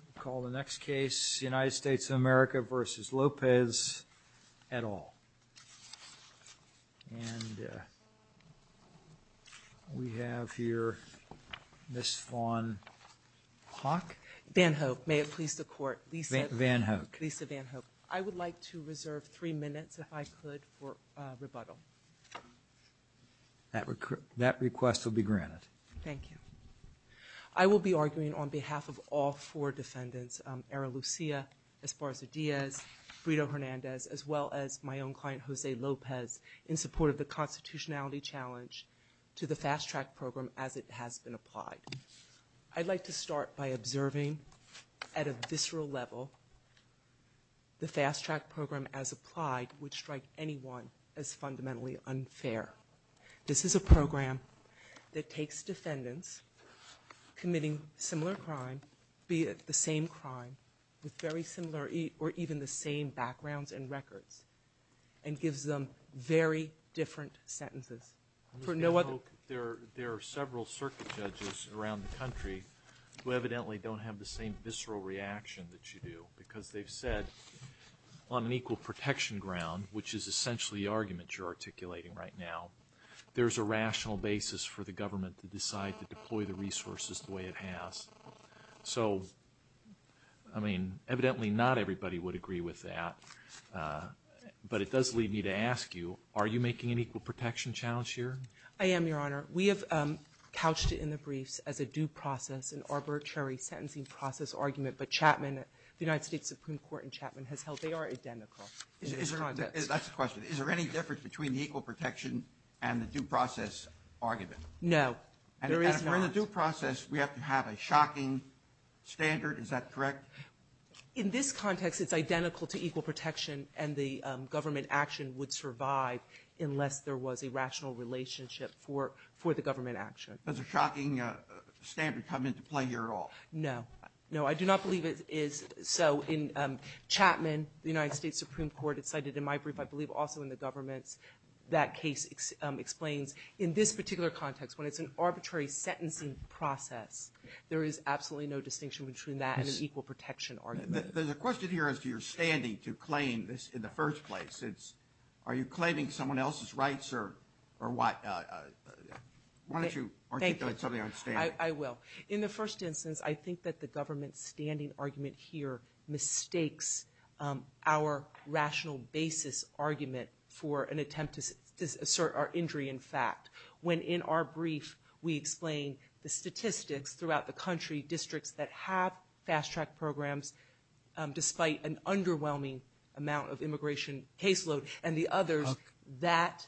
We'll call the next case United States of America v. Lopezetal. And we have here Ms. Vaughn-Hawk. Van Hoek, may it please the court. Lisa Van Hoek. Lisa Van Hoek. I would like to reserve three minutes, if I could, for rebuttal. That request will be deferred to defendants, Eralucia Esparza-Diaz, Brito Hernandez, as well as my own client, Jose Lopez, in support of the constitutionality challenge to the fast-track program as it has been applied. I'd like to start by observing at a visceral level the fast-track program as applied, which strike anyone as fundamentally unfair. This is a program that takes defendants committing similar crime, be it the same crime with very similar or even the same backgrounds and records, and gives them very different sentences. For no other... Ms. Van Hoek, there are several circuit judges around the country who evidently don't have the same visceral reaction that you do, because they've said, on an equal protection ground, which is essentially the argument you're articulating right now, there's a rational basis for the program to employ the resources the way it has. So, I mean, evidently not everybody would agree with that, but it does lead me to ask you, are you making an equal protection challenge here? I am, Your Honor. We have couched it in the briefs as a due process, an arbitrary sentencing process argument, but Chapman, the United States Supreme Court in Chapman, has held they are identical in this context. That's the question. Is there any difference between the equal protection and the due process argument? No, there is not. And if we're in the due process, we have to have a shocking standard, is that correct? In this context, it's identical to equal protection, and the government action would survive unless there was a rational relationship for the government action. Does a shocking standard come into play here at all? No. No, I do not believe it is so. In Chapman, the United States Supreme Court, it's cited in my brief, I believe also in the government's, that case explains in this particular context when it's an arbitrary sentencing process, there is absolutely no distinction between that and an equal protection argument. There's a question here as to your standing to claim this in the first place. Are you claiming someone else's rights or why don't you articulate something on standing? I will. In the first instance, I think that the government's standing argument here mistakes our rational basis argument for an attempt to assert our injury in fact. When in our brief, we explain the statistics throughout the country, districts that have fast-track programs, despite an underwhelming amount of immigration caseload and the others, that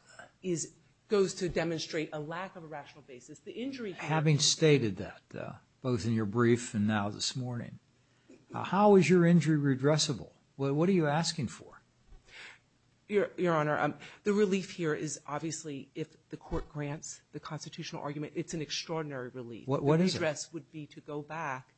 goes to demonstrate a lack of a rational basis. The injury... Having stated that, both in your brief and now this morning, how is your injury redressable? What are you asking for? Your Honor, the relief here is obviously if the court grants the constitutional argument, it's an extraordinary relief. What is it? The redress would be to go back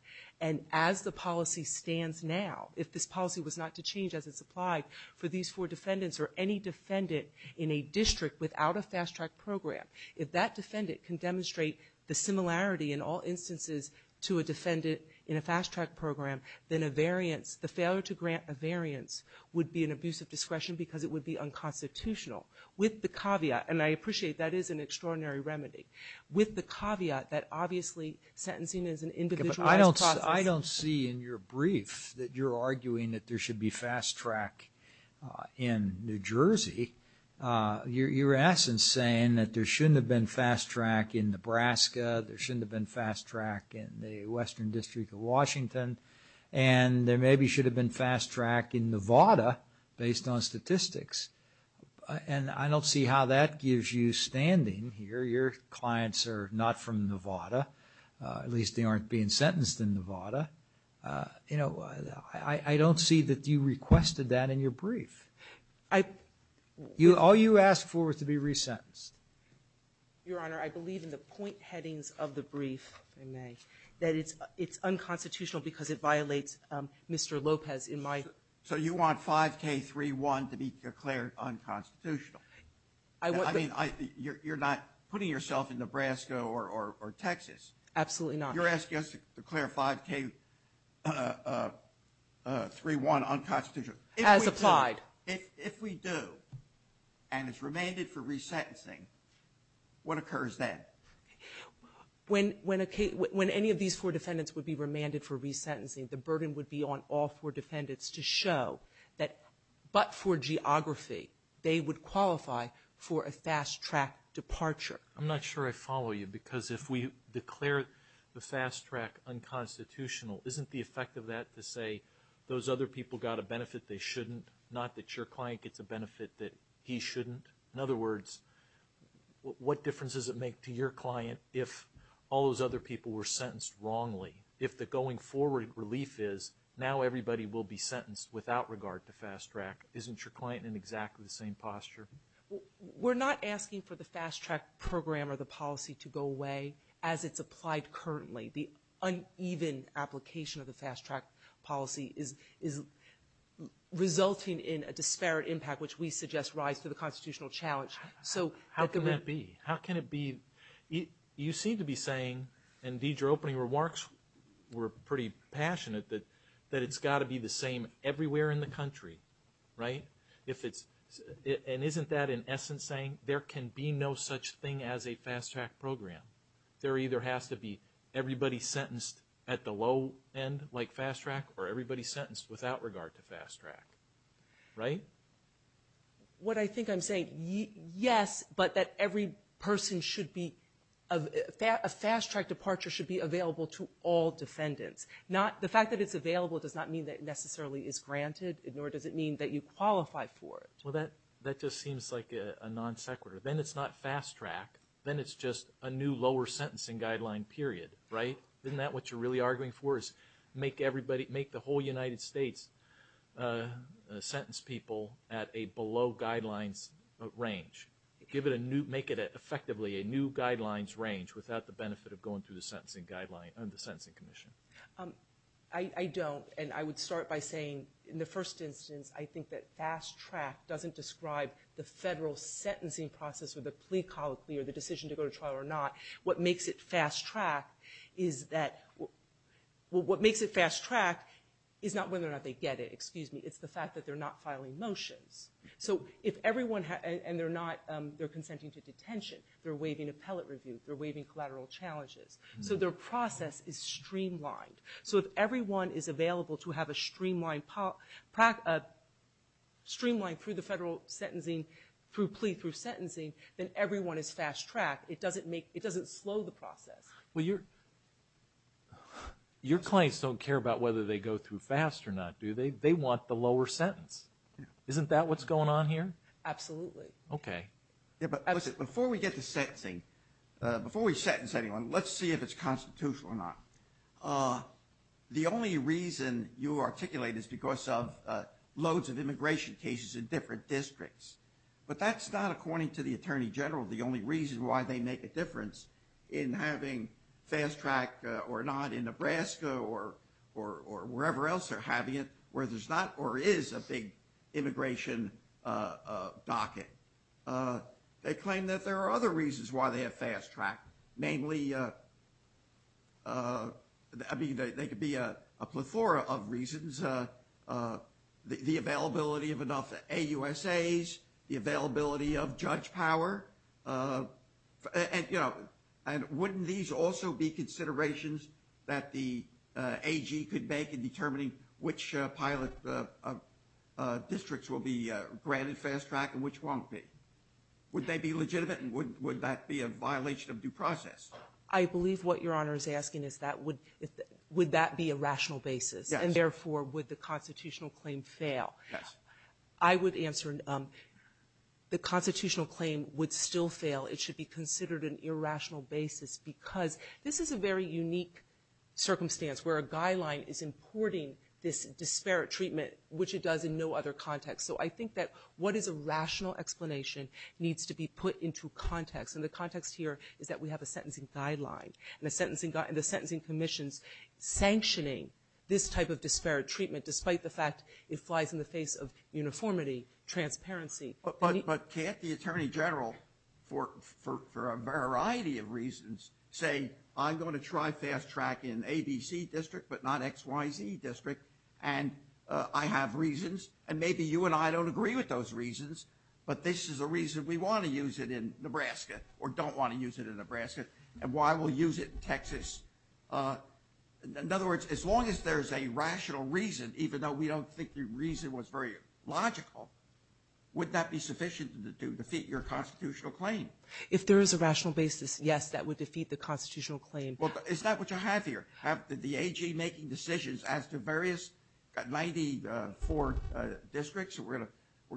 and as the policy stands now, if this policy was not to change as it's applied for these four defendants or any defendant in a district without a fast-track program, if that defendant can demonstrate the similarity in all instances to a defendant in a fast-track program, then a variance, the failure to grant a variance would be an abuse of discretion because it would be unconstitutional. With the caveat, and I appreciate that is an extraordinary remedy, with the caveat that obviously sentencing is an individualized process. I don't see in your brief that you're arguing that there should be fast-track in New Jersey. You're in essence saying that there shouldn't have been fast-track in Nebraska, there shouldn't have been fast-track in the Western District of Washington, and there maybe should have been fast-track in Nevada based on statistics. And I don't see how that gives you standing here. Your clients are not from Nevada. At least they aren't being sentenced in Nevada. You know, I don't see that you requested that in your brief. All you asked for was to be resentenced. Your Honor, I believe in the point headings of the brief, if I may, that it's unconstitutional because it violates Mr. Lopez in my... So you want 5K31 to be declared unconstitutional. I mean, you're not putting yourself in Nebraska or Texas. Absolutely not. You're asking us to declare 5K31 unconstitutional. As applied. If we do, and it's remanded for resentencing, what occurs then? When any of these four defendants would be remanded for resentencing, the burden would be on all four defendants to show that, but for geography, they would qualify for a fast-track departure. I'm not sure I follow you because if we declare the fast-track unconstitutional, isn't the other people got a benefit they shouldn't, not that your client gets a benefit that he shouldn't? In other words, what difference does it make to your client if all those other people were sentenced wrongly? If the going forward relief is, now everybody will be sentenced without regard to fast-track, isn't your client in exactly the same posture? We're not asking for the fast-track program or the policy to go away as it's applied currently. The uneven application of the fast-track policy is resulting in a disparate impact which we suggest rise to the constitutional challenge. So how can that be? How can it be? You seem to be saying, and Deidre opening remarks were pretty passionate, that it's got to be the same everywhere in the country, right? If it's, and isn't that in essence saying there can be no such thing as a fast-track program? There either has to be everybody sentenced at the low end like fast-track or everybody sentenced without regard to fast-track, right? What I think I'm saying, yes, but that every person should be, a fast-track departure should be available to all defendants. The fact that it's available does not mean that it necessarily is granted, nor does it mean that you qualify for it. Well that just seems like a non sequitur. Then it's not fast-track, then it's just a new lower sentencing guideline period, right? Isn't that what you're really arguing for is make everybody, make the whole United States sentence people at a below guidelines range? Give it a new, make it effectively a new guidelines range without the benefit of going through the sentencing guideline, the Sentencing Commission. I don't, and I would start by saying in the first instance I think that fast-track doesn't describe the federal sentencing process or the plea colloquy or the decision to go to trial or not. What makes it fast-track is that, well what makes it fast-track is not whether or not they get it, excuse me, it's the fact that they're not filing motions. So if everyone, and they're not, they're consenting to detention, they're waiving appellate review, they're waiving collateral challenges. So their process is streamlined. So if everyone is available to have a streamlined, streamlined through the federal sentencing, through plea through sentencing, then everyone is fast-track. It doesn't make, it doesn't slow the process. Your clients don't care about whether they go through fast or not, do they? They want the lower sentence. Isn't that what's going on here? Absolutely. Okay. Yeah, but listen, before we get to sentencing, before we sentence anyone, let's see if it's constitutional or not. The only reason you articulate is because of loads of immigration cases in different districts. But that's not, according to the Attorney General, the only reason why they make a difference in having fast-track or not in Nebraska or wherever else they're having it where there's not or is a big immigration docket. They claim that there are other reasons why they have fast-track, namely, I mean, they could be a plethora of reasons, the availability of enough AUSAs, the availability of judge power. And wouldn't these also be considerations that the AG could make in determining which pilot districts will be granted fast-track and which won't be? Would they be legitimate and would that be a violation of due process? I believe what Your Honor is asking is that would that be a rational basis? Yes. And therefore, would the constitutional claim fail? Yes. I would answer the constitutional claim would still fail. It should be considered an irrational basis because this is a very unique circumstance where a guideline is importing this disparate treatment, which it does in no other context. So I think that what is a rational explanation needs to be put into context. And the context here is that we have a sentencing guideline and the sentencing commissions sanctioning this type of disparate treatment despite the But can't the Attorney General, for a variety of reasons, say I'm going to try fast-track in ABC district but not XYZ district and I have reasons and maybe you and I don't agree with those reasons, but this is a reason we want to use it in Nebraska or don't want to use it in Nebraska and why we'll use it in Texas. In other words, as long as there's a If there is a rational basis, yes, that would defeat the constitutional claim. Well, is that what you have here? Have the AG making decisions as to various 94 districts that we're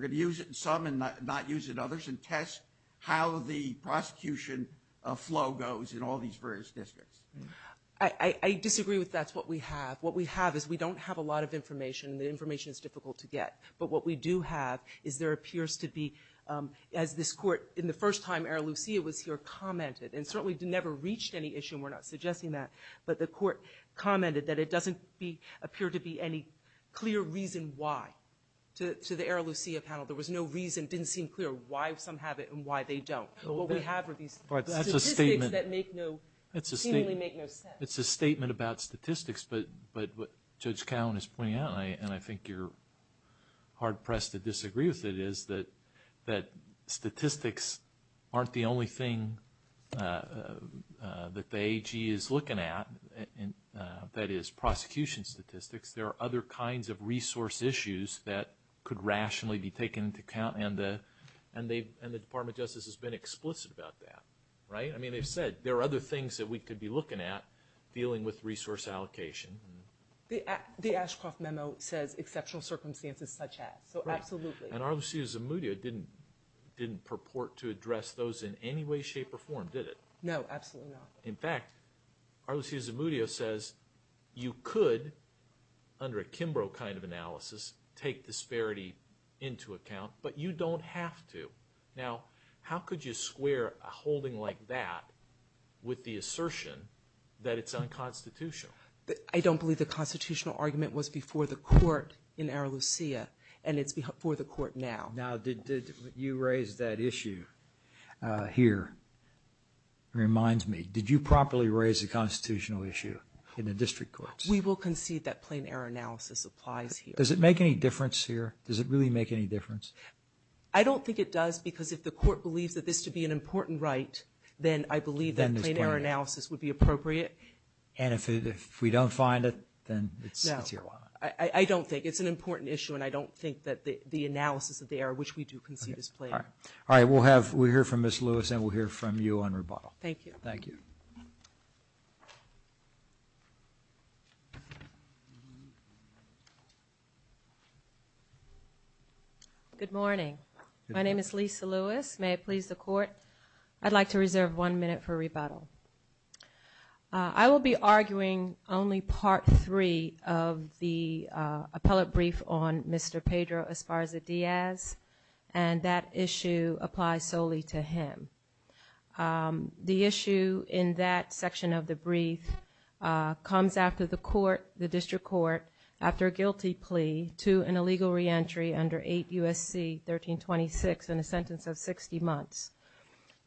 going to use it in some and not use it in others and test how the prosecution flow goes in all these various districts? I disagree with that's what we have. What we have is we don't have a lot of information. The information is difficult to get. But what we do have is there appears to be, as this court in the first time Era Lucia was here commented, and certainly never reached any issue and we're not suggesting that, but the court commented that it doesn't appear to be any clear reason why to the Era Lucia panel. There was no reason. It didn't seem clear why some have it and why they don't. But what we have are these statistics that make no seemingly make no sense. It's a statement about statistics, but what Judge Cowen is pointing out, and I think you're hard pressed to disagree with it, is that statistics aren't the only thing that the AG is looking at, that is prosecution statistics. There are other kinds of resource issues that could rationally be taken into account and the Department of Justice has been explicit about that. I mean they've said there are other things that we could be looking at dealing with resource allocation. The Ashcroft memo says exceptional circumstances such as, so absolutely. And Era Lucia Zamudio didn't purport to address those in any way shape or form did it? No, absolutely not. In fact, Era Lucia Zamudio says you could, under a Kimbrough kind of analysis, take disparity into account, but you don't have to. Now how could you square a holding like that with the assertion that it's unconstitutional? I don't believe the constitutional argument was before the court in Era Lucia and it's before the court now. Now did you raise that issue here, reminds me, did you properly raise the constitutional issue in the district courts? We will concede that plain error analysis applies here. Does it make any difference here? Does it really make any difference? I don't think it does because if the court believes that this to be an important right, then I believe that plain error analysis would be appropriate. And if we don't find it, then it's your line. I don't think, it's an important issue and I don't think that the analysis of the error, which we do concede is plain error. All right, we'll hear from Ms. Lewis and we'll hear from you on rebuttal. Thank you. Thank you. Good morning. My name is Lisa Lewis. May it please the court, I'd like to reserve one minute for rebuttal. I will be arguing only part three of the appellate brief on Mr. Pedro Esparza Diaz and that issue applies solely to him. The issue in that section of the brief comes after the court, the district court, after the guilty plea to an illegal reentry under 8 U.S.C. 1326 in a sentence of 60 months.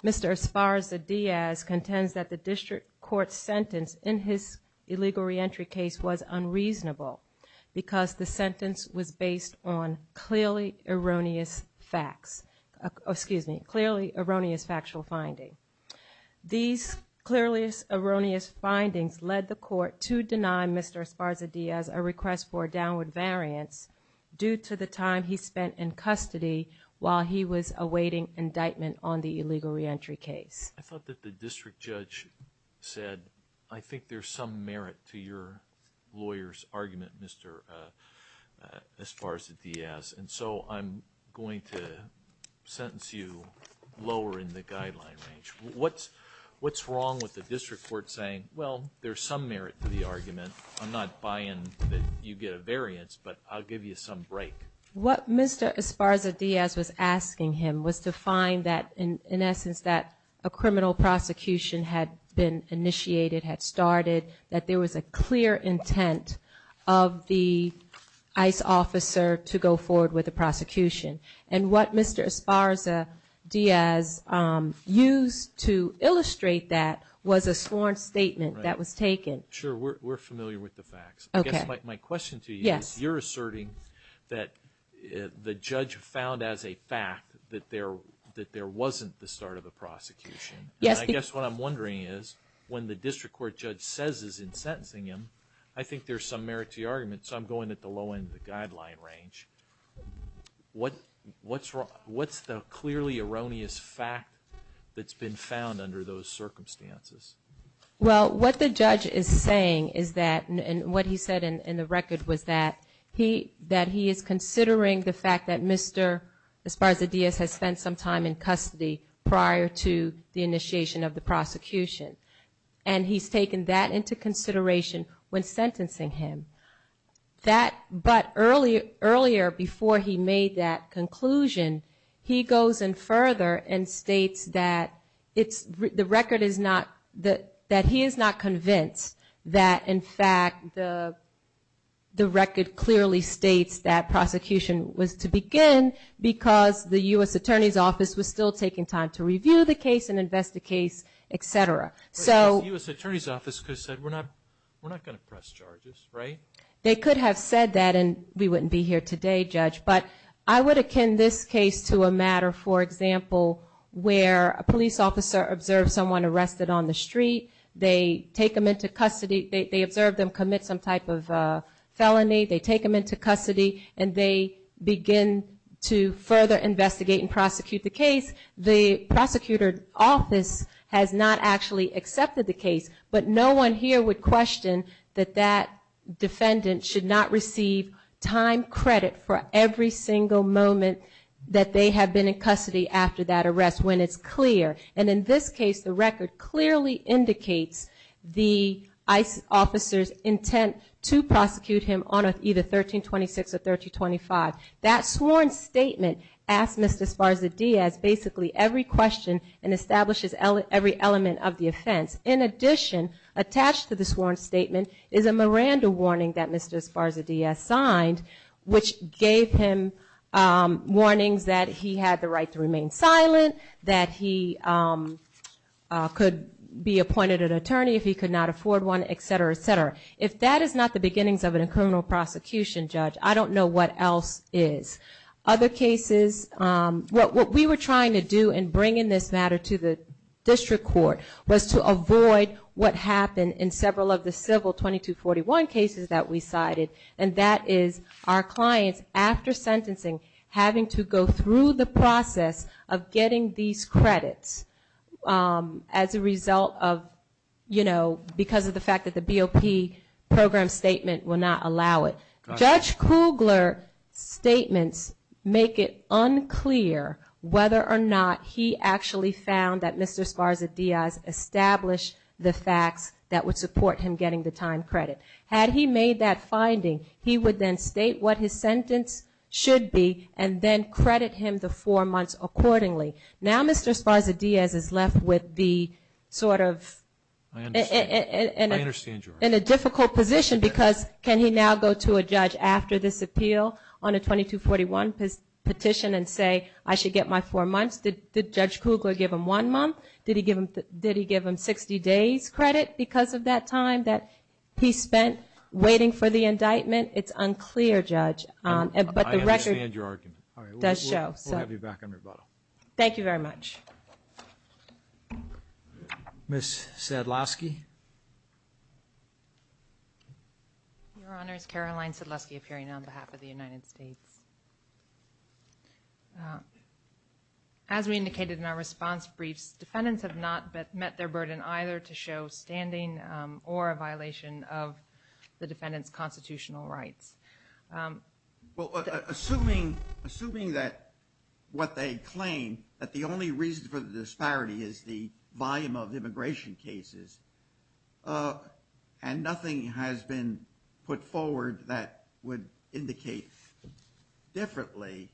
Mr. Esparza Diaz contends that the district court sentence in his illegal reentry case was unreasonable because the sentence was based on clearly erroneous facts, excuse me, clearly erroneous factual finding. These clearly erroneous findings led the court to deny Mr. Esparza Diaz a request for a downward variance due to the time he spent in custody while he was awaiting indictment on the illegal reentry case. I thought that the district judge said, I think there's some merit to your lawyer's argument, Mr. Esparza Diaz, and so I'm going to sentence you lower in the guideline range. What's wrong with the district court saying, well, there's some merit to the argument, I'm not buying that you get a variance, but I'll give you some break. What Mr. Esparza Diaz was asking him was to find that, in essence, that a criminal prosecution had been initiated, had started, that there was a clear intent of the ICE officer to go forward with the prosecution. And what Mr. Esparza Diaz used to illustrate that was a sworn statement that was taken. Sure, we're familiar with the facts. My question to you is, you're asserting that the judge found as a fact that there wasn't the start of the prosecution, and I guess what I'm wondering is, when the district court judge says he's sentencing him, I think there's some merit to your argument, so I'm going at the low end of the guideline range. What's the clearly erroneous fact that's been found under those circumstances? Well, what the judge is saying is that, and what he said in the record was that, he is considering the fact that Mr. Esparza Diaz has spent some time in custody prior to the initiation of the prosecution, and he's taken that into consideration when sentencing him. But earlier, before he made that conclusion, he goes in further and states that the record is not, that he is not convinced that, in fact, the record clearly states that prosecution was to begin because the U.S. Attorney's Office was still taking time to review the case and investigate, etc. So the U.S. Attorney's Office could have said, we're not going to press charges, right? They could have said that, and we wouldn't be here today, Judge, but I would akin this case to a matter, for example, where a police officer observes someone arrested on the street, they take them into custody, they observe them commit some type of felony, they take them into custody, and they begin to further investigate and prosecute the case. The prosecutor's office has not actually accepted the case, but no one here would question that defendant should not receive time credit for every single moment that they have been in custody after that arrest when it's clear. And in this case, the record clearly indicates the officer's intent to prosecute him on either 1326 or 1325. That sworn statement asks Mr. Esparza-Diaz basically every question and establishes every element of the offense. In addition, attached to the sworn statement is a Miranda warning that Mr. Esparza-Diaz signed, which gave him warnings that he had the right to remain silent, that he could be appointed an attorney if he could not afford one, etc., etc. If that is not the beginnings of a criminal prosecution, Judge, I don't know what else is. Other cases, what we were trying to do in bringing this matter to the district court was to avoid what happened in several of the civil 2241 cases that we cited. And that is our clients, after sentencing, having to go through the process of getting these credits as a result of, you know, because of the fact that the BOP program statement will not allow it. Judge Kugler's statements make it unclear whether or not he actually found that Mr. Esparza-Diaz established the facts that would support him getting the time credit. Had he made that finding, he would then state what his sentence should be and then credit him the four months accordingly. Now Mr. Esparza-Diaz is left with the sort of in a difficult position because can he now go to a judge after this appeal on a 2241 petition and say, I should get my four months? Did Judge Kugler give him one month? Did he give him 60 days credit because of that time that he spent waiting for the indictment? It's unclear, Judge. But the record does show. I understand your argument. All right. We'll have you back on rebuttal. Thank you very much. Ms. Sadlowski. Your Honor, it's Caroline Sadlowski appearing on behalf of the United States. As we indicated in our response briefs, defendants have not met their burden either to show standing or a violation of the defendant's constitutional rights. Well, assuming that what they claim, that the only reason for the disparity is the volume of immigration cases and nothing has been put forward that would indicate a violation differently,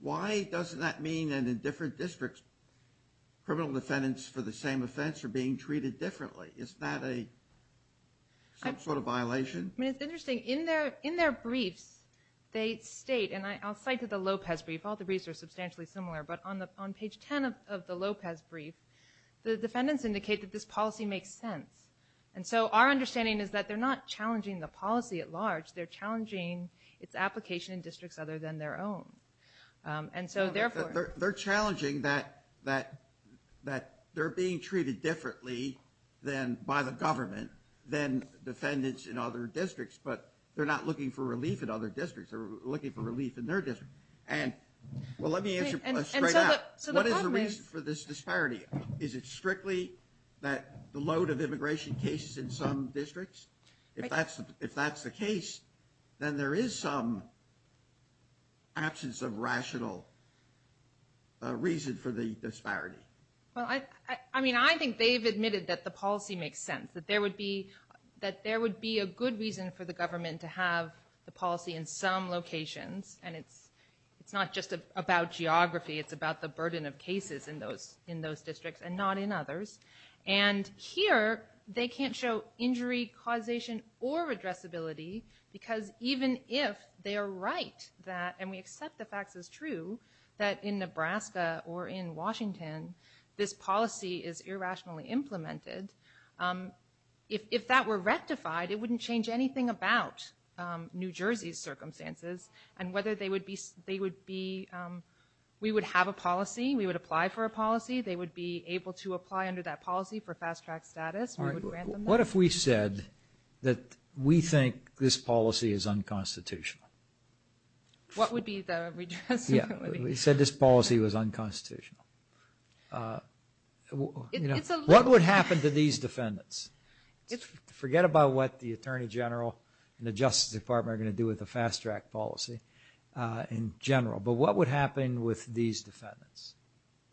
why doesn't that mean that in different districts, criminal defendants for the same offense are being treated differently? Isn't that some sort of violation? I mean, it's interesting. In their briefs, they state, and I'll cite the Lopez brief. All the briefs are substantially similar, but on page 10 of the Lopez brief, the defendants indicate that this policy makes sense. And so our understanding is that they're not challenging the policy at large. They're challenging its application in districts other than their own. And so therefore- They're challenging that they're being treated differently by the government than defendants in other districts, but they're not looking for relief in other districts. They're looking for relief in their district. And well, let me answer straight up. What is the reason for this disparity? Is it strictly that the load of immigration cases in some districts? If that's the case, then there is some absence of rational reason for the disparity. Well, I mean, I think they've admitted that the policy makes sense, that there would be a good reason for the government to have the policy in some locations. And it's not just about geography. It's about the burden of cases in those districts and not in others. And here, they can't show injury causation or addressability because even if they are right that, and we accept the facts as true, that in Nebraska or in Washington, this policy is irrationally implemented, if that were rectified, it wouldn't change anything about New Jersey's circumstances and whether they would be- We would have a policy. We would apply for a policy. They would be able to apply under that policy for fast-track status. We would grant them that. What if we said that we think this policy is unconstitutional? What would be the redressability? Yeah. We said this policy was unconstitutional. What would happen to these defendants? Forget about what the Attorney General and the Justice Department are going to do with the fast-track policy in general. But what would happen with these defendants?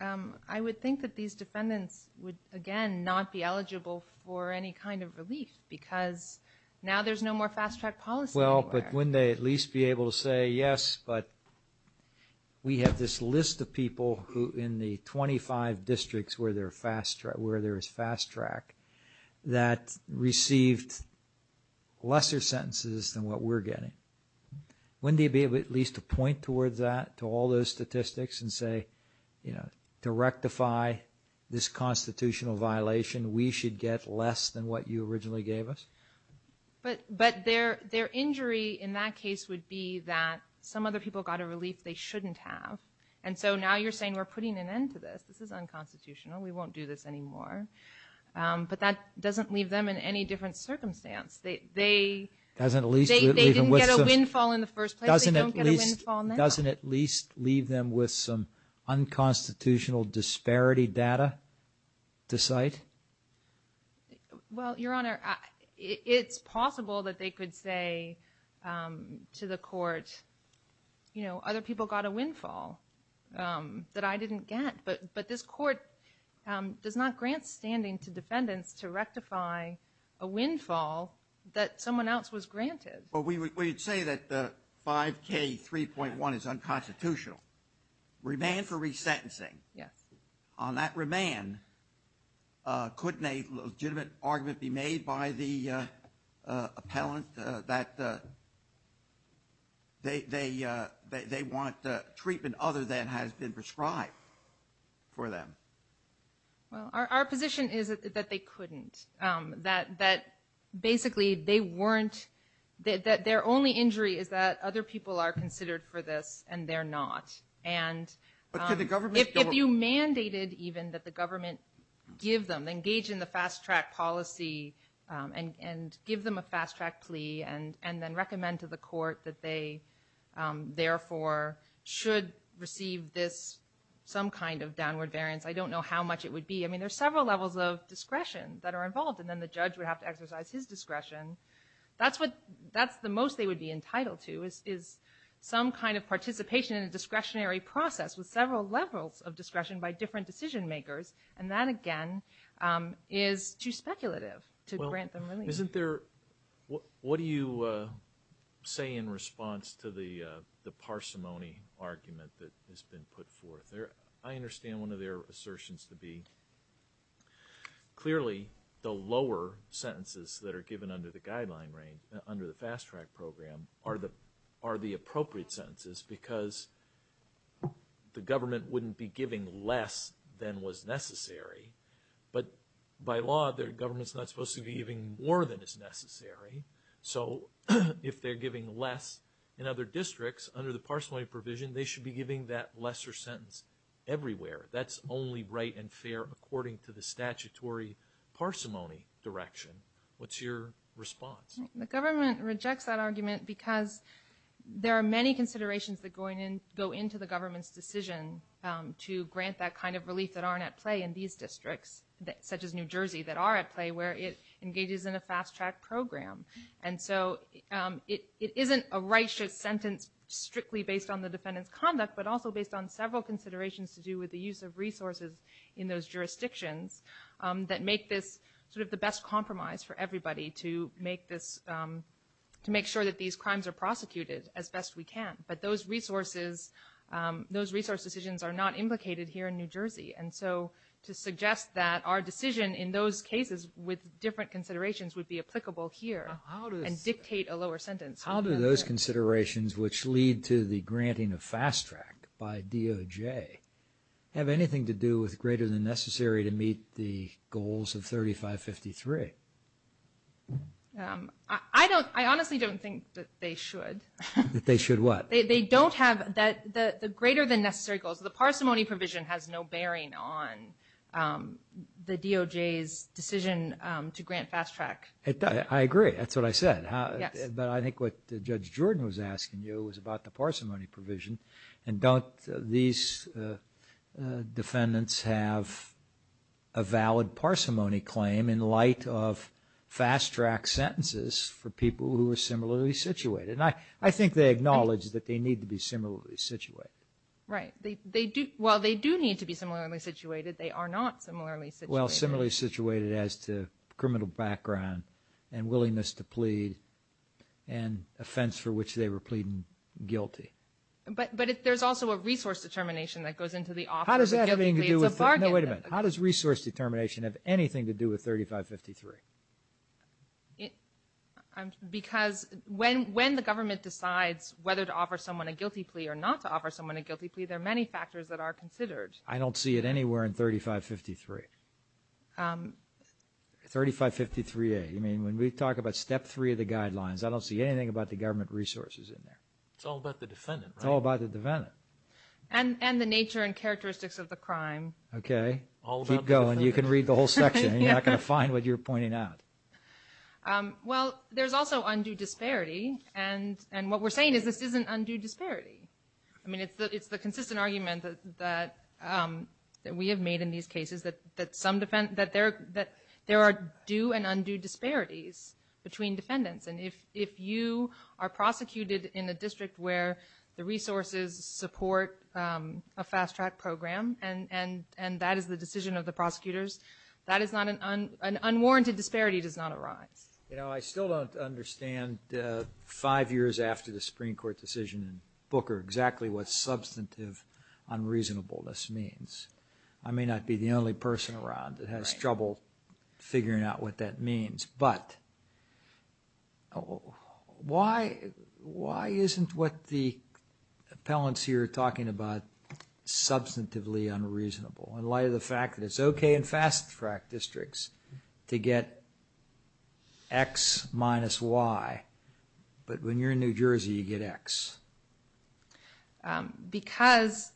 I would think that these defendants would, again, not be eligible for any kind of relief because now there's no more fast-track policy. Well, but wouldn't they at least be able to say, yes, but we have this list of people who in the 25 districts where there is fast-track that received lesser sentences than what we're getting. Wouldn't they be able at least to point towards that, to all those statistics and say, you know, to rectify this constitutional violation, we should get less than what you originally gave us? But their injury in that case would be that some other people got a relief they shouldn't have. And so now you're saying we're putting an end to this. This is unconstitutional. We won't do this anymore. But that doesn't leave them in any different circumstance. They didn't get a windfall in the first place. They don't get a windfall now. Doesn't at least leave them with some unconstitutional disparity data to cite? Well, Your Honor, it's possible that they could say to the court, you know, other people got a windfall that I didn't get. But this court does not grant standing to defendants to rectify a windfall that someone else was granted. Well, we would say that 5K3.1 is unconstitutional. Remand for resentencing. Yes. On that remand, couldn't a legitimate argument be made by the appellant that they want treatment other than has been prescribed for them? Well, our position is that they couldn't. That basically they weren't, that their only injury is that other people are considered for this and they're not. And if you mandated even that the government give them, engage in the fast track policy and give them a fast track plea and then recommend to the court that they therefore should be received this, some kind of downward variance, I don't know how much it would be. I mean, there's several levels of discretion that are involved and then the judge would have to exercise his discretion. That's what, that's the most they would be entitled to is some kind of participation in a discretionary process with several levels of discretion by different decision makers. And that, again, is too speculative to grant them remand. Isn't there, what do you say in response to the parsimony argument that has been put forth? I understand one of their assertions to be clearly the lower sentences that are given under the guideline range, under the fast track program are the appropriate sentences because the government wouldn't be giving less than was necessary. But by law, the government's not supposed to be giving more than is necessary. So if they're giving less in other districts under the parsimony provision, they should be giving that lesser sentence everywhere. That's only right and fair according to the statutory parsimony direction. What's your response? The government rejects that argument because there are many considerations that go into the government's decision to grant that kind of relief that aren't at play in these districts, such as New Jersey, that are at play where it engages in a fast track program. And so it isn't a righteous sentence strictly based on the defendant's conduct, but also based on several considerations to do with the use of resources in those jurisdictions that make this sort of the best compromise for everybody to make this, to make sure that these crimes are prosecuted as best we can. But those resources, those resource decisions are not implicated here in New Jersey. And so to suggest that our decision in those cases with different considerations would be applicable here and dictate a lower sentence. How do those considerations which lead to the granting of fast track by DOJ have anything to do with greater than necessary to meet the goals of 3553? I don't, I honestly don't think that they should. That they should what? They don't have that, the greater than necessary goals. The parsimony provision has no bearing on the DOJ's decision to grant fast track. I agree. That's what I said. Yes. But I think what Judge Jordan was asking you was about the parsimony provision. And don't these defendants have a valid parsimony claim in light of fast track sentences for people who are similarly situated? I think they acknowledge that they need to be similarly situated. Right. They do, while they do need to be similarly situated, they are not similarly situated. While similarly situated as to criminal background and willingness to plead and offense for which they were pleading guilty. But there's also a resource determination that goes into the offer of guilty pleads of bargaining. How does that have anything to do with, no wait a minute. How does resource determination have anything to do with 3553? Because, when the government decides whether to offer someone a guilty plea or not to offer someone a guilty plea, there are many factors that are considered. I don't see it anywhere in 3553. 3553A. I mean, when we talk about step 3 of the guidelines, I don't see anything about the government resources in there. It's all about the defendant, right? It's all about the defendant. And the nature and characteristics of the crime. Okay. All about the defendant. Keep going, you can read the whole section. You're not going to find what you're pointing out. Well, there's also undue disparity. And what we're saying is this isn't undue disparity. I mean, it's the consistent argument that we have made in these cases that there are due and undue disparities between defendants. And if you are prosecuted in a district where the resources support a fast track program and that is the decision of the prosecutors, an unwarranted disparity does not arise. You know, I still don't understand five years after the Supreme Court decision in Booker exactly what substantive unreasonableness means. I may not be the only person around that has trouble figuring out what that means. But why isn't what the appellants here are talking about substantively unreasonable in light of the fact that it's okay in fast track districts to get X minus Y, but when you're in New Jersey, you get X? Because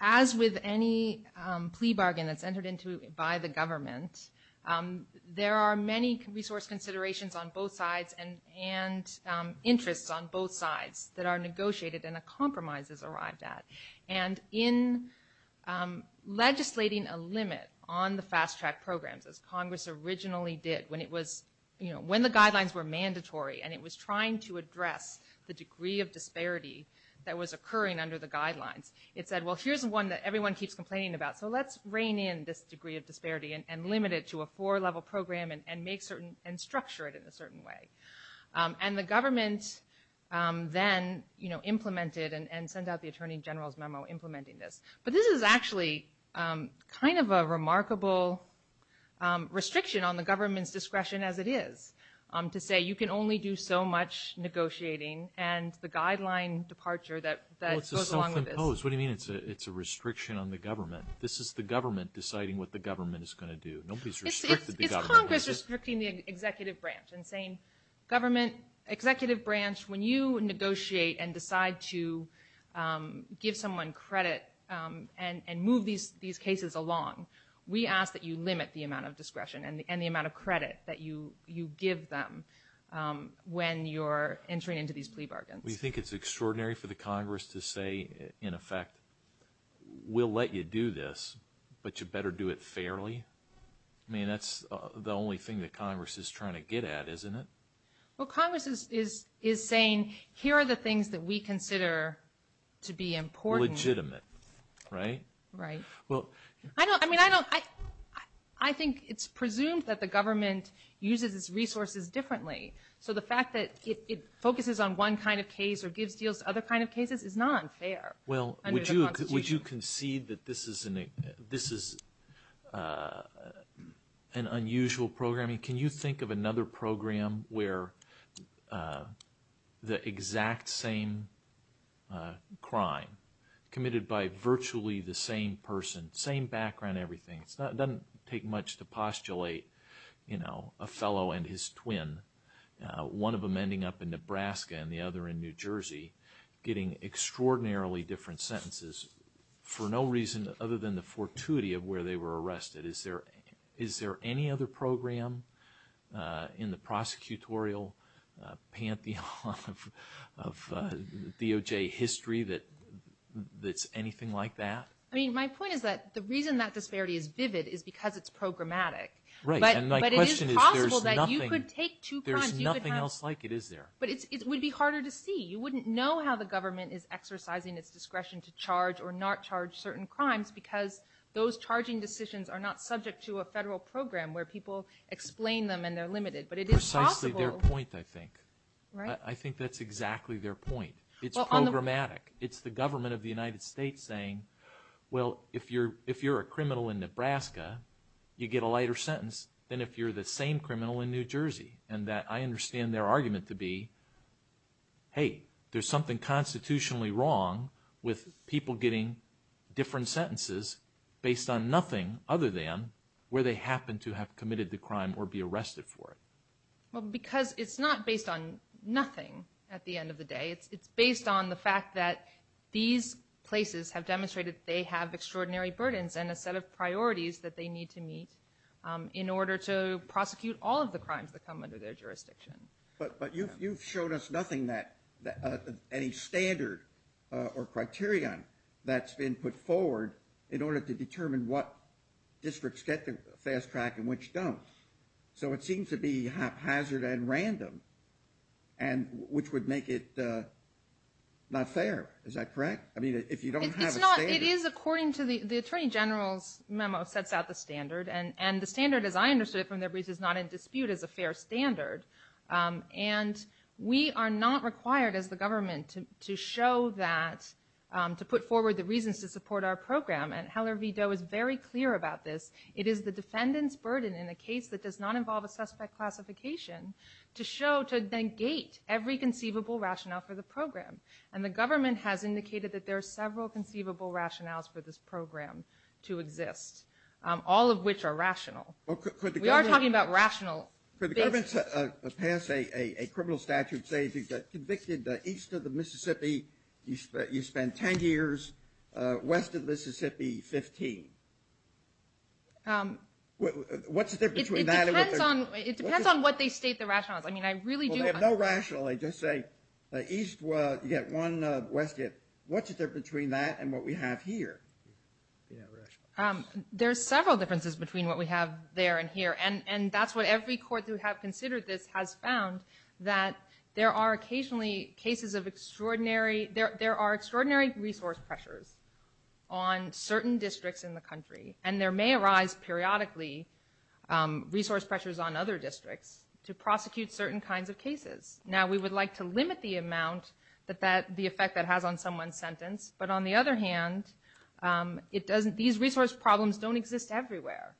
as with any plea bargain that's entered into by the government, there are many resource considerations on both sides and interests on both sides that are negotiated and a compromise is arrived at. And in legislating a limit on the fast track programs, as Congress originally did when the guidelines were mandatory and it was trying to address the degree of disparity that was occurring under the guidelines, it said, well, here's one that everyone keeps complaining about, so let's rein in this degree of disparity and limit it to a four-level program and structure it in a certain way. And the government then implemented and sent out the Attorney General's memo implementing But this is actually kind of a remarkable restriction on the government's discretion as it is to say you can only do so much negotiating and the guideline departure that goes along with this. What do you mean it's a restriction on the government? This is the government deciding what the government is going to do. It's Congress restricting the executive branch and saying, government, executive branch, when you negotiate and decide to give someone credit and move these cases along, we ask that you limit the amount of discretion and the amount of credit that you give them when you're entering into these plea bargains. Do you think it's extraordinary for the Congress to say, in effect, we'll let you do this, but you better do it fairly? I mean, that's the only thing that Congress is trying to get at, isn't it? Well, Congress is saying, here are the things that we consider to be important. Legitimate, right? Right. Well, I think it's presumed that the government uses its resources differently. So the fact that it focuses on one kind of case or gives deals to other kind of cases is not fair. Well, would you concede that this is an unusual program? Can you think of another program where the exact same crime, committed by virtually the same person, same background, everything, it doesn't take much to postulate a fellow and his twin, one of them ending up in Nebraska and the other in New Jersey, getting extraordinarily different sentences for no reason other than the fortuity of where they were arrested. Is there any other program in the prosecutorial pantheon of DOJ history that's anything like that? I mean, my point is that the reason that disparity is vivid is because it's programmatic. Right. And my question is, there's nothing else like it, is there? But it would be harder to see. You wouldn't know how the government is exercising its discretion to charge or not subject to a federal program where people explain them and they're limited. Precisely their point, I think. I think that's exactly their point. It's programmatic. It's the government of the United States saying, well, if you're a criminal in Nebraska, you get a lighter sentence than if you're the same criminal in New Jersey. And I understand their argument to be, hey, there's something constitutionally wrong with people getting different sentences based on nothing other than where they happen to have committed the crime or be arrested for it. Well, because it's not based on nothing at the end of the day. It's based on the fact that these places have demonstrated that they have extraordinary burdens and a set of priorities that they need to meet in order to prosecute all of the crimes that come under their jurisdiction. But you've shown us nothing that any standard or criterion that's been put forward in order to determine what districts get the fast track and which don't. So it seems to be haphazard and random, which would make it not fair. Is that correct? I mean, if you don't have a standard. It is according to the Attorney General's memo sets out the standard. And the standard, as I understood it from their briefs, is not in dispute as a fair standard. And we are not required as the government to show that, to put forward the reasons to support our program. And Heller v. Doe is very clear about this. It is the defendant's burden in a case that does not involve a suspect classification to show, to negate every conceivable rationale for the program. And the government has indicated that there are several conceivable rationales for this program to exist, all of which are rational. We are talking about rational. Could the government pass a criminal statute, say, if you get convicted east of the Mississippi, you spend 10 years, west of the Mississippi, 15? What's the difference between that and what they're... It depends on what they state the rationales. I mean, I really do... Well, they have no rational. They just say east, you get one, west, you get... What's the difference between that and what we have here? Yeah, rational. There's several differences between what we have there and here. And that's what every court who have considered this has found, that there are occasionally cases of extraordinary... There are extraordinary resource pressures on certain districts in the country. And there may arise periodically resource pressures on other districts to prosecute certain kinds of cases. Now, we would like to limit the amount, the effect that has on someone's sentence. But on the other hand, these resource problems don't exist everywhere.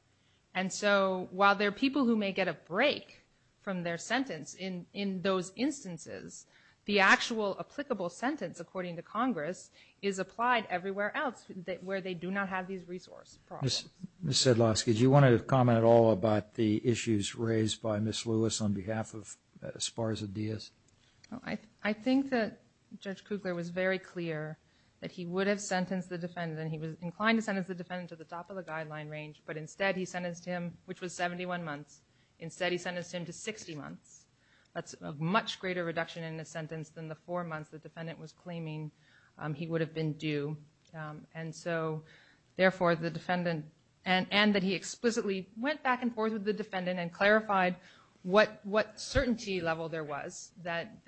And so, while there are people who may get a break from their sentence in those instances, the actual applicable sentence, according to Congress, is applied everywhere else where they do not have these resource problems. Ms. Sedlowski, do you want to comment at all about the issues raised by Ms. Lewis on behalf of Sparza-Diaz? Well, I think that Judge Kugler was very clear that he would have sentenced the defendant. He was inclined to sentence the defendant to the top of the guideline range. But instead, he sentenced him, which was 71 months. Instead, he sentenced him to 60 months. That's a much greater reduction in the sentence than the four months the defendant was claiming he would have been due. And so, therefore, the defendant... And that he explicitly went back and forth with the defendant and clarified what certainty level there was, that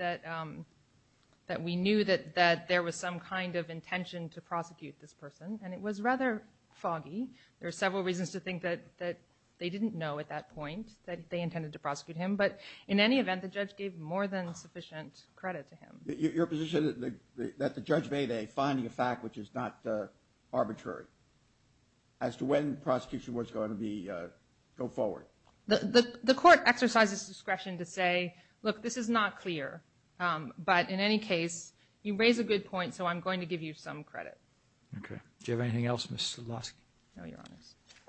we knew that there was some kind of intention to prosecute this person. And it was rather foggy. There were several reasons to think that they didn't know at that point that they intended to prosecute him. But in any event, the judge gave more than sufficient credit to him. Your position that the judge made a finding of fact, which is not arbitrary, as to when prosecution was going to go forward? The court exercises discretion to say, look, this is not clear. But in any case, you raise a good point. So I'm going to give you some credit. OK. Do you have anything else, Ms. Sulawski? No, Your Honor.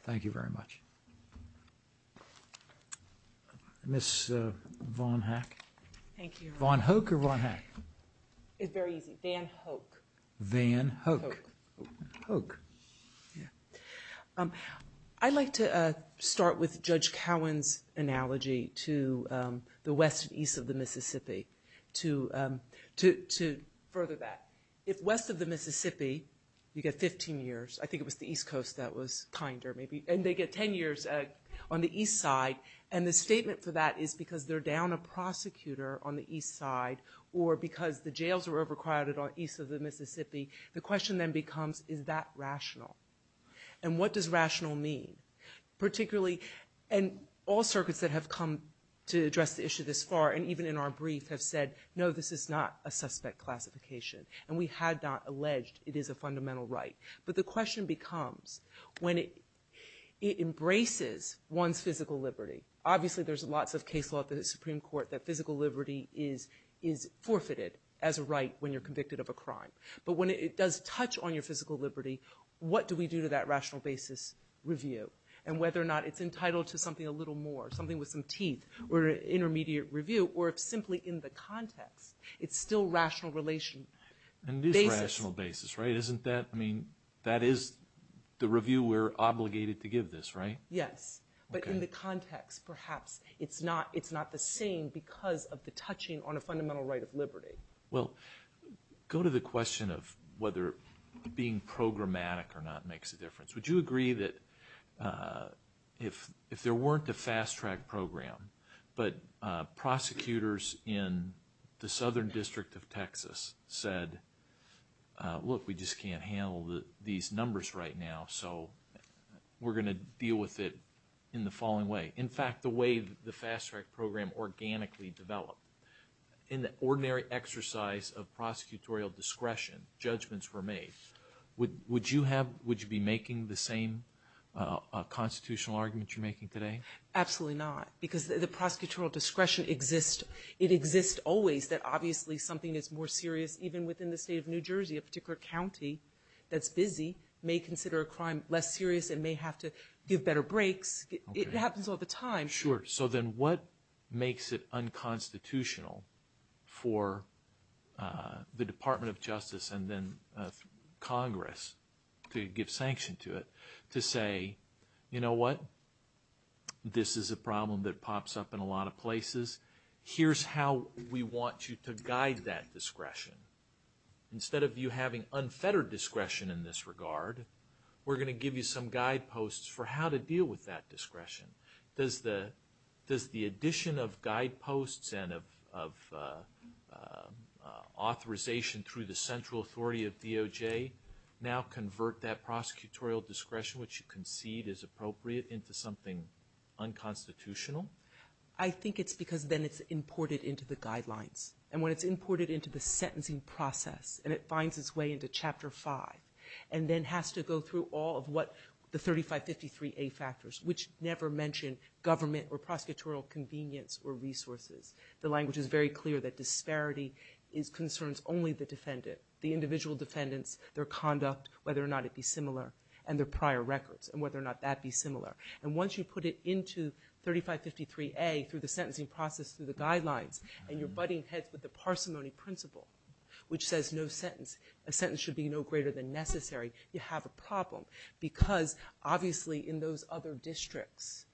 Thank you very much. Ms. Von Hack? Thank you, Your Honor. Von Hoek or Von Hack? It's very easy. Van Hoek. Van Hoek. Hoek. Yeah. I'd like to start with Judge Cowan's analogy to the west and east of the Mississippi to further that. If west of the Mississippi, you get 15 years. I think it was the east coast that was kinder, maybe. And they get 10 years on the east side. And the statement for that is because they're down a prosecutor on the east side or because the jails were overcrowded on east of the Mississippi. The question then becomes, is that rational? And what does rational mean? Particularly, and all circuits that have come to address the issue this far, and even in our brief, have said, no, this is not a suspect classification. And we had not alleged it is a fundamental right. But the question becomes, when it embraces one's physical liberty, obviously, there's lots of case law at the Supreme Court that physical liberty is forfeited as a right when you're convicted of a crime. But when it does touch on your physical liberty, what do we do to that rational basis review? And whether or not it's entitled to something a little more, something with some teeth, or an intermediate review, or if simply in the context, it's still rational relation. And it is a rational basis, right? Isn't that, I mean, that is the review we're obligated to give this, right? Yes. But in the context, perhaps, it's not the same because of the touching on a fundamental right of liberty. Well, go to the question of whether being programmatic or not makes a difference. Would you agree that if there weren't a fast track program, but prosecutors in the Southern District of Texas said, look, we just can't handle these numbers right now, so we're going to deal with it in the following way. In fact, the way the fast track program organically developed, in the ordinary exercise of prosecutorial discretion, judgments were made. Would you be making the same constitutional argument you're making today? Absolutely not. Because the prosecutorial discretion exists, it exists always that obviously something is more serious, even within the state of New Jersey, a particular county that's busy may consider a crime less serious and may have to give better breaks. It happens all the time. Sure. So then what makes it unconstitutional for the Department of Justice and then Congress to give sanction to it to say, you know what, this is a problem that pops up in a lot of places, here's how we want you to guide that discretion. Instead of you having unfettered discretion in this regard, we're going to give you some guideposts for how to deal with that discretion. Does the addition of guideposts and of authorization through the central authority of DOJ now convert that prosecutorial discretion, which you concede is appropriate, into something unconstitutional? I think it's because then it's imported into the guidelines. And when it's imported into the sentencing process and it finds its way into Chapter 5 and then has to go through all of what the 3553A factors, which never mention government or prosecutorial convenience or resources. The language is very clear that disparity concerns only the defendant, the individual defendants, their conduct, whether or not it be similar, and their prior records and whether or not that be similar. And once you put it into 3553A through the sentencing process, through the guidelines, and you're butting heads with the parsimony principle, which says no sentence, a sentence should be no greater than necessary, you have a problem. Because, obviously, in those other districts,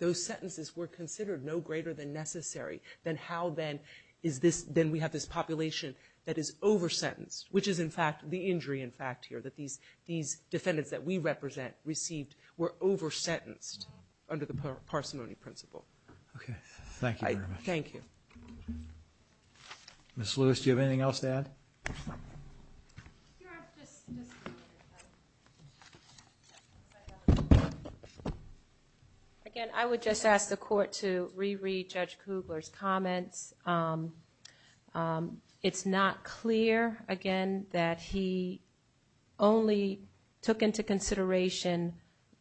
those sentences were considered no greater than necessary. Then how then is this, then we have this population that is over-sentenced, which is, in fact, the injury, in fact, here, that these defendants that we represent received were over-sentenced under the parsimony principle. Okay. Thank you very much. Thank you. Ms. Lewis, do you have anything else to add? Sure. Again, I would just ask the court to reread Judge Kugler's comments. It's not clear, again, that he only took into consideration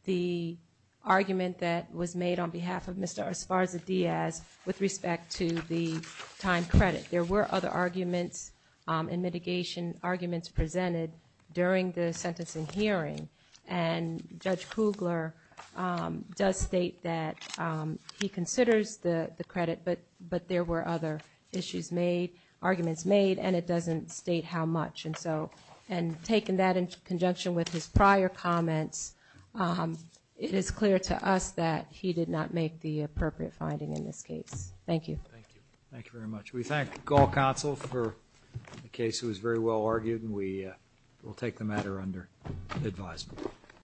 the argument that was made on behalf of Mr. Esparza-Diaz with respect to the time credit. There were other arguments and mitigation arguments presented during the sentencing hearing, and Judge Kugler does state that he considers the credit, but there were other issues made, arguments made, and it doesn't state how much. And taking that in conjunction with his prior comments, it is clear to us that he did not make the appropriate finding in this case. Thank you. Thank you. Thank you very much. We thank all counsel for the case. It was very well argued, and we will take the matter under advisement.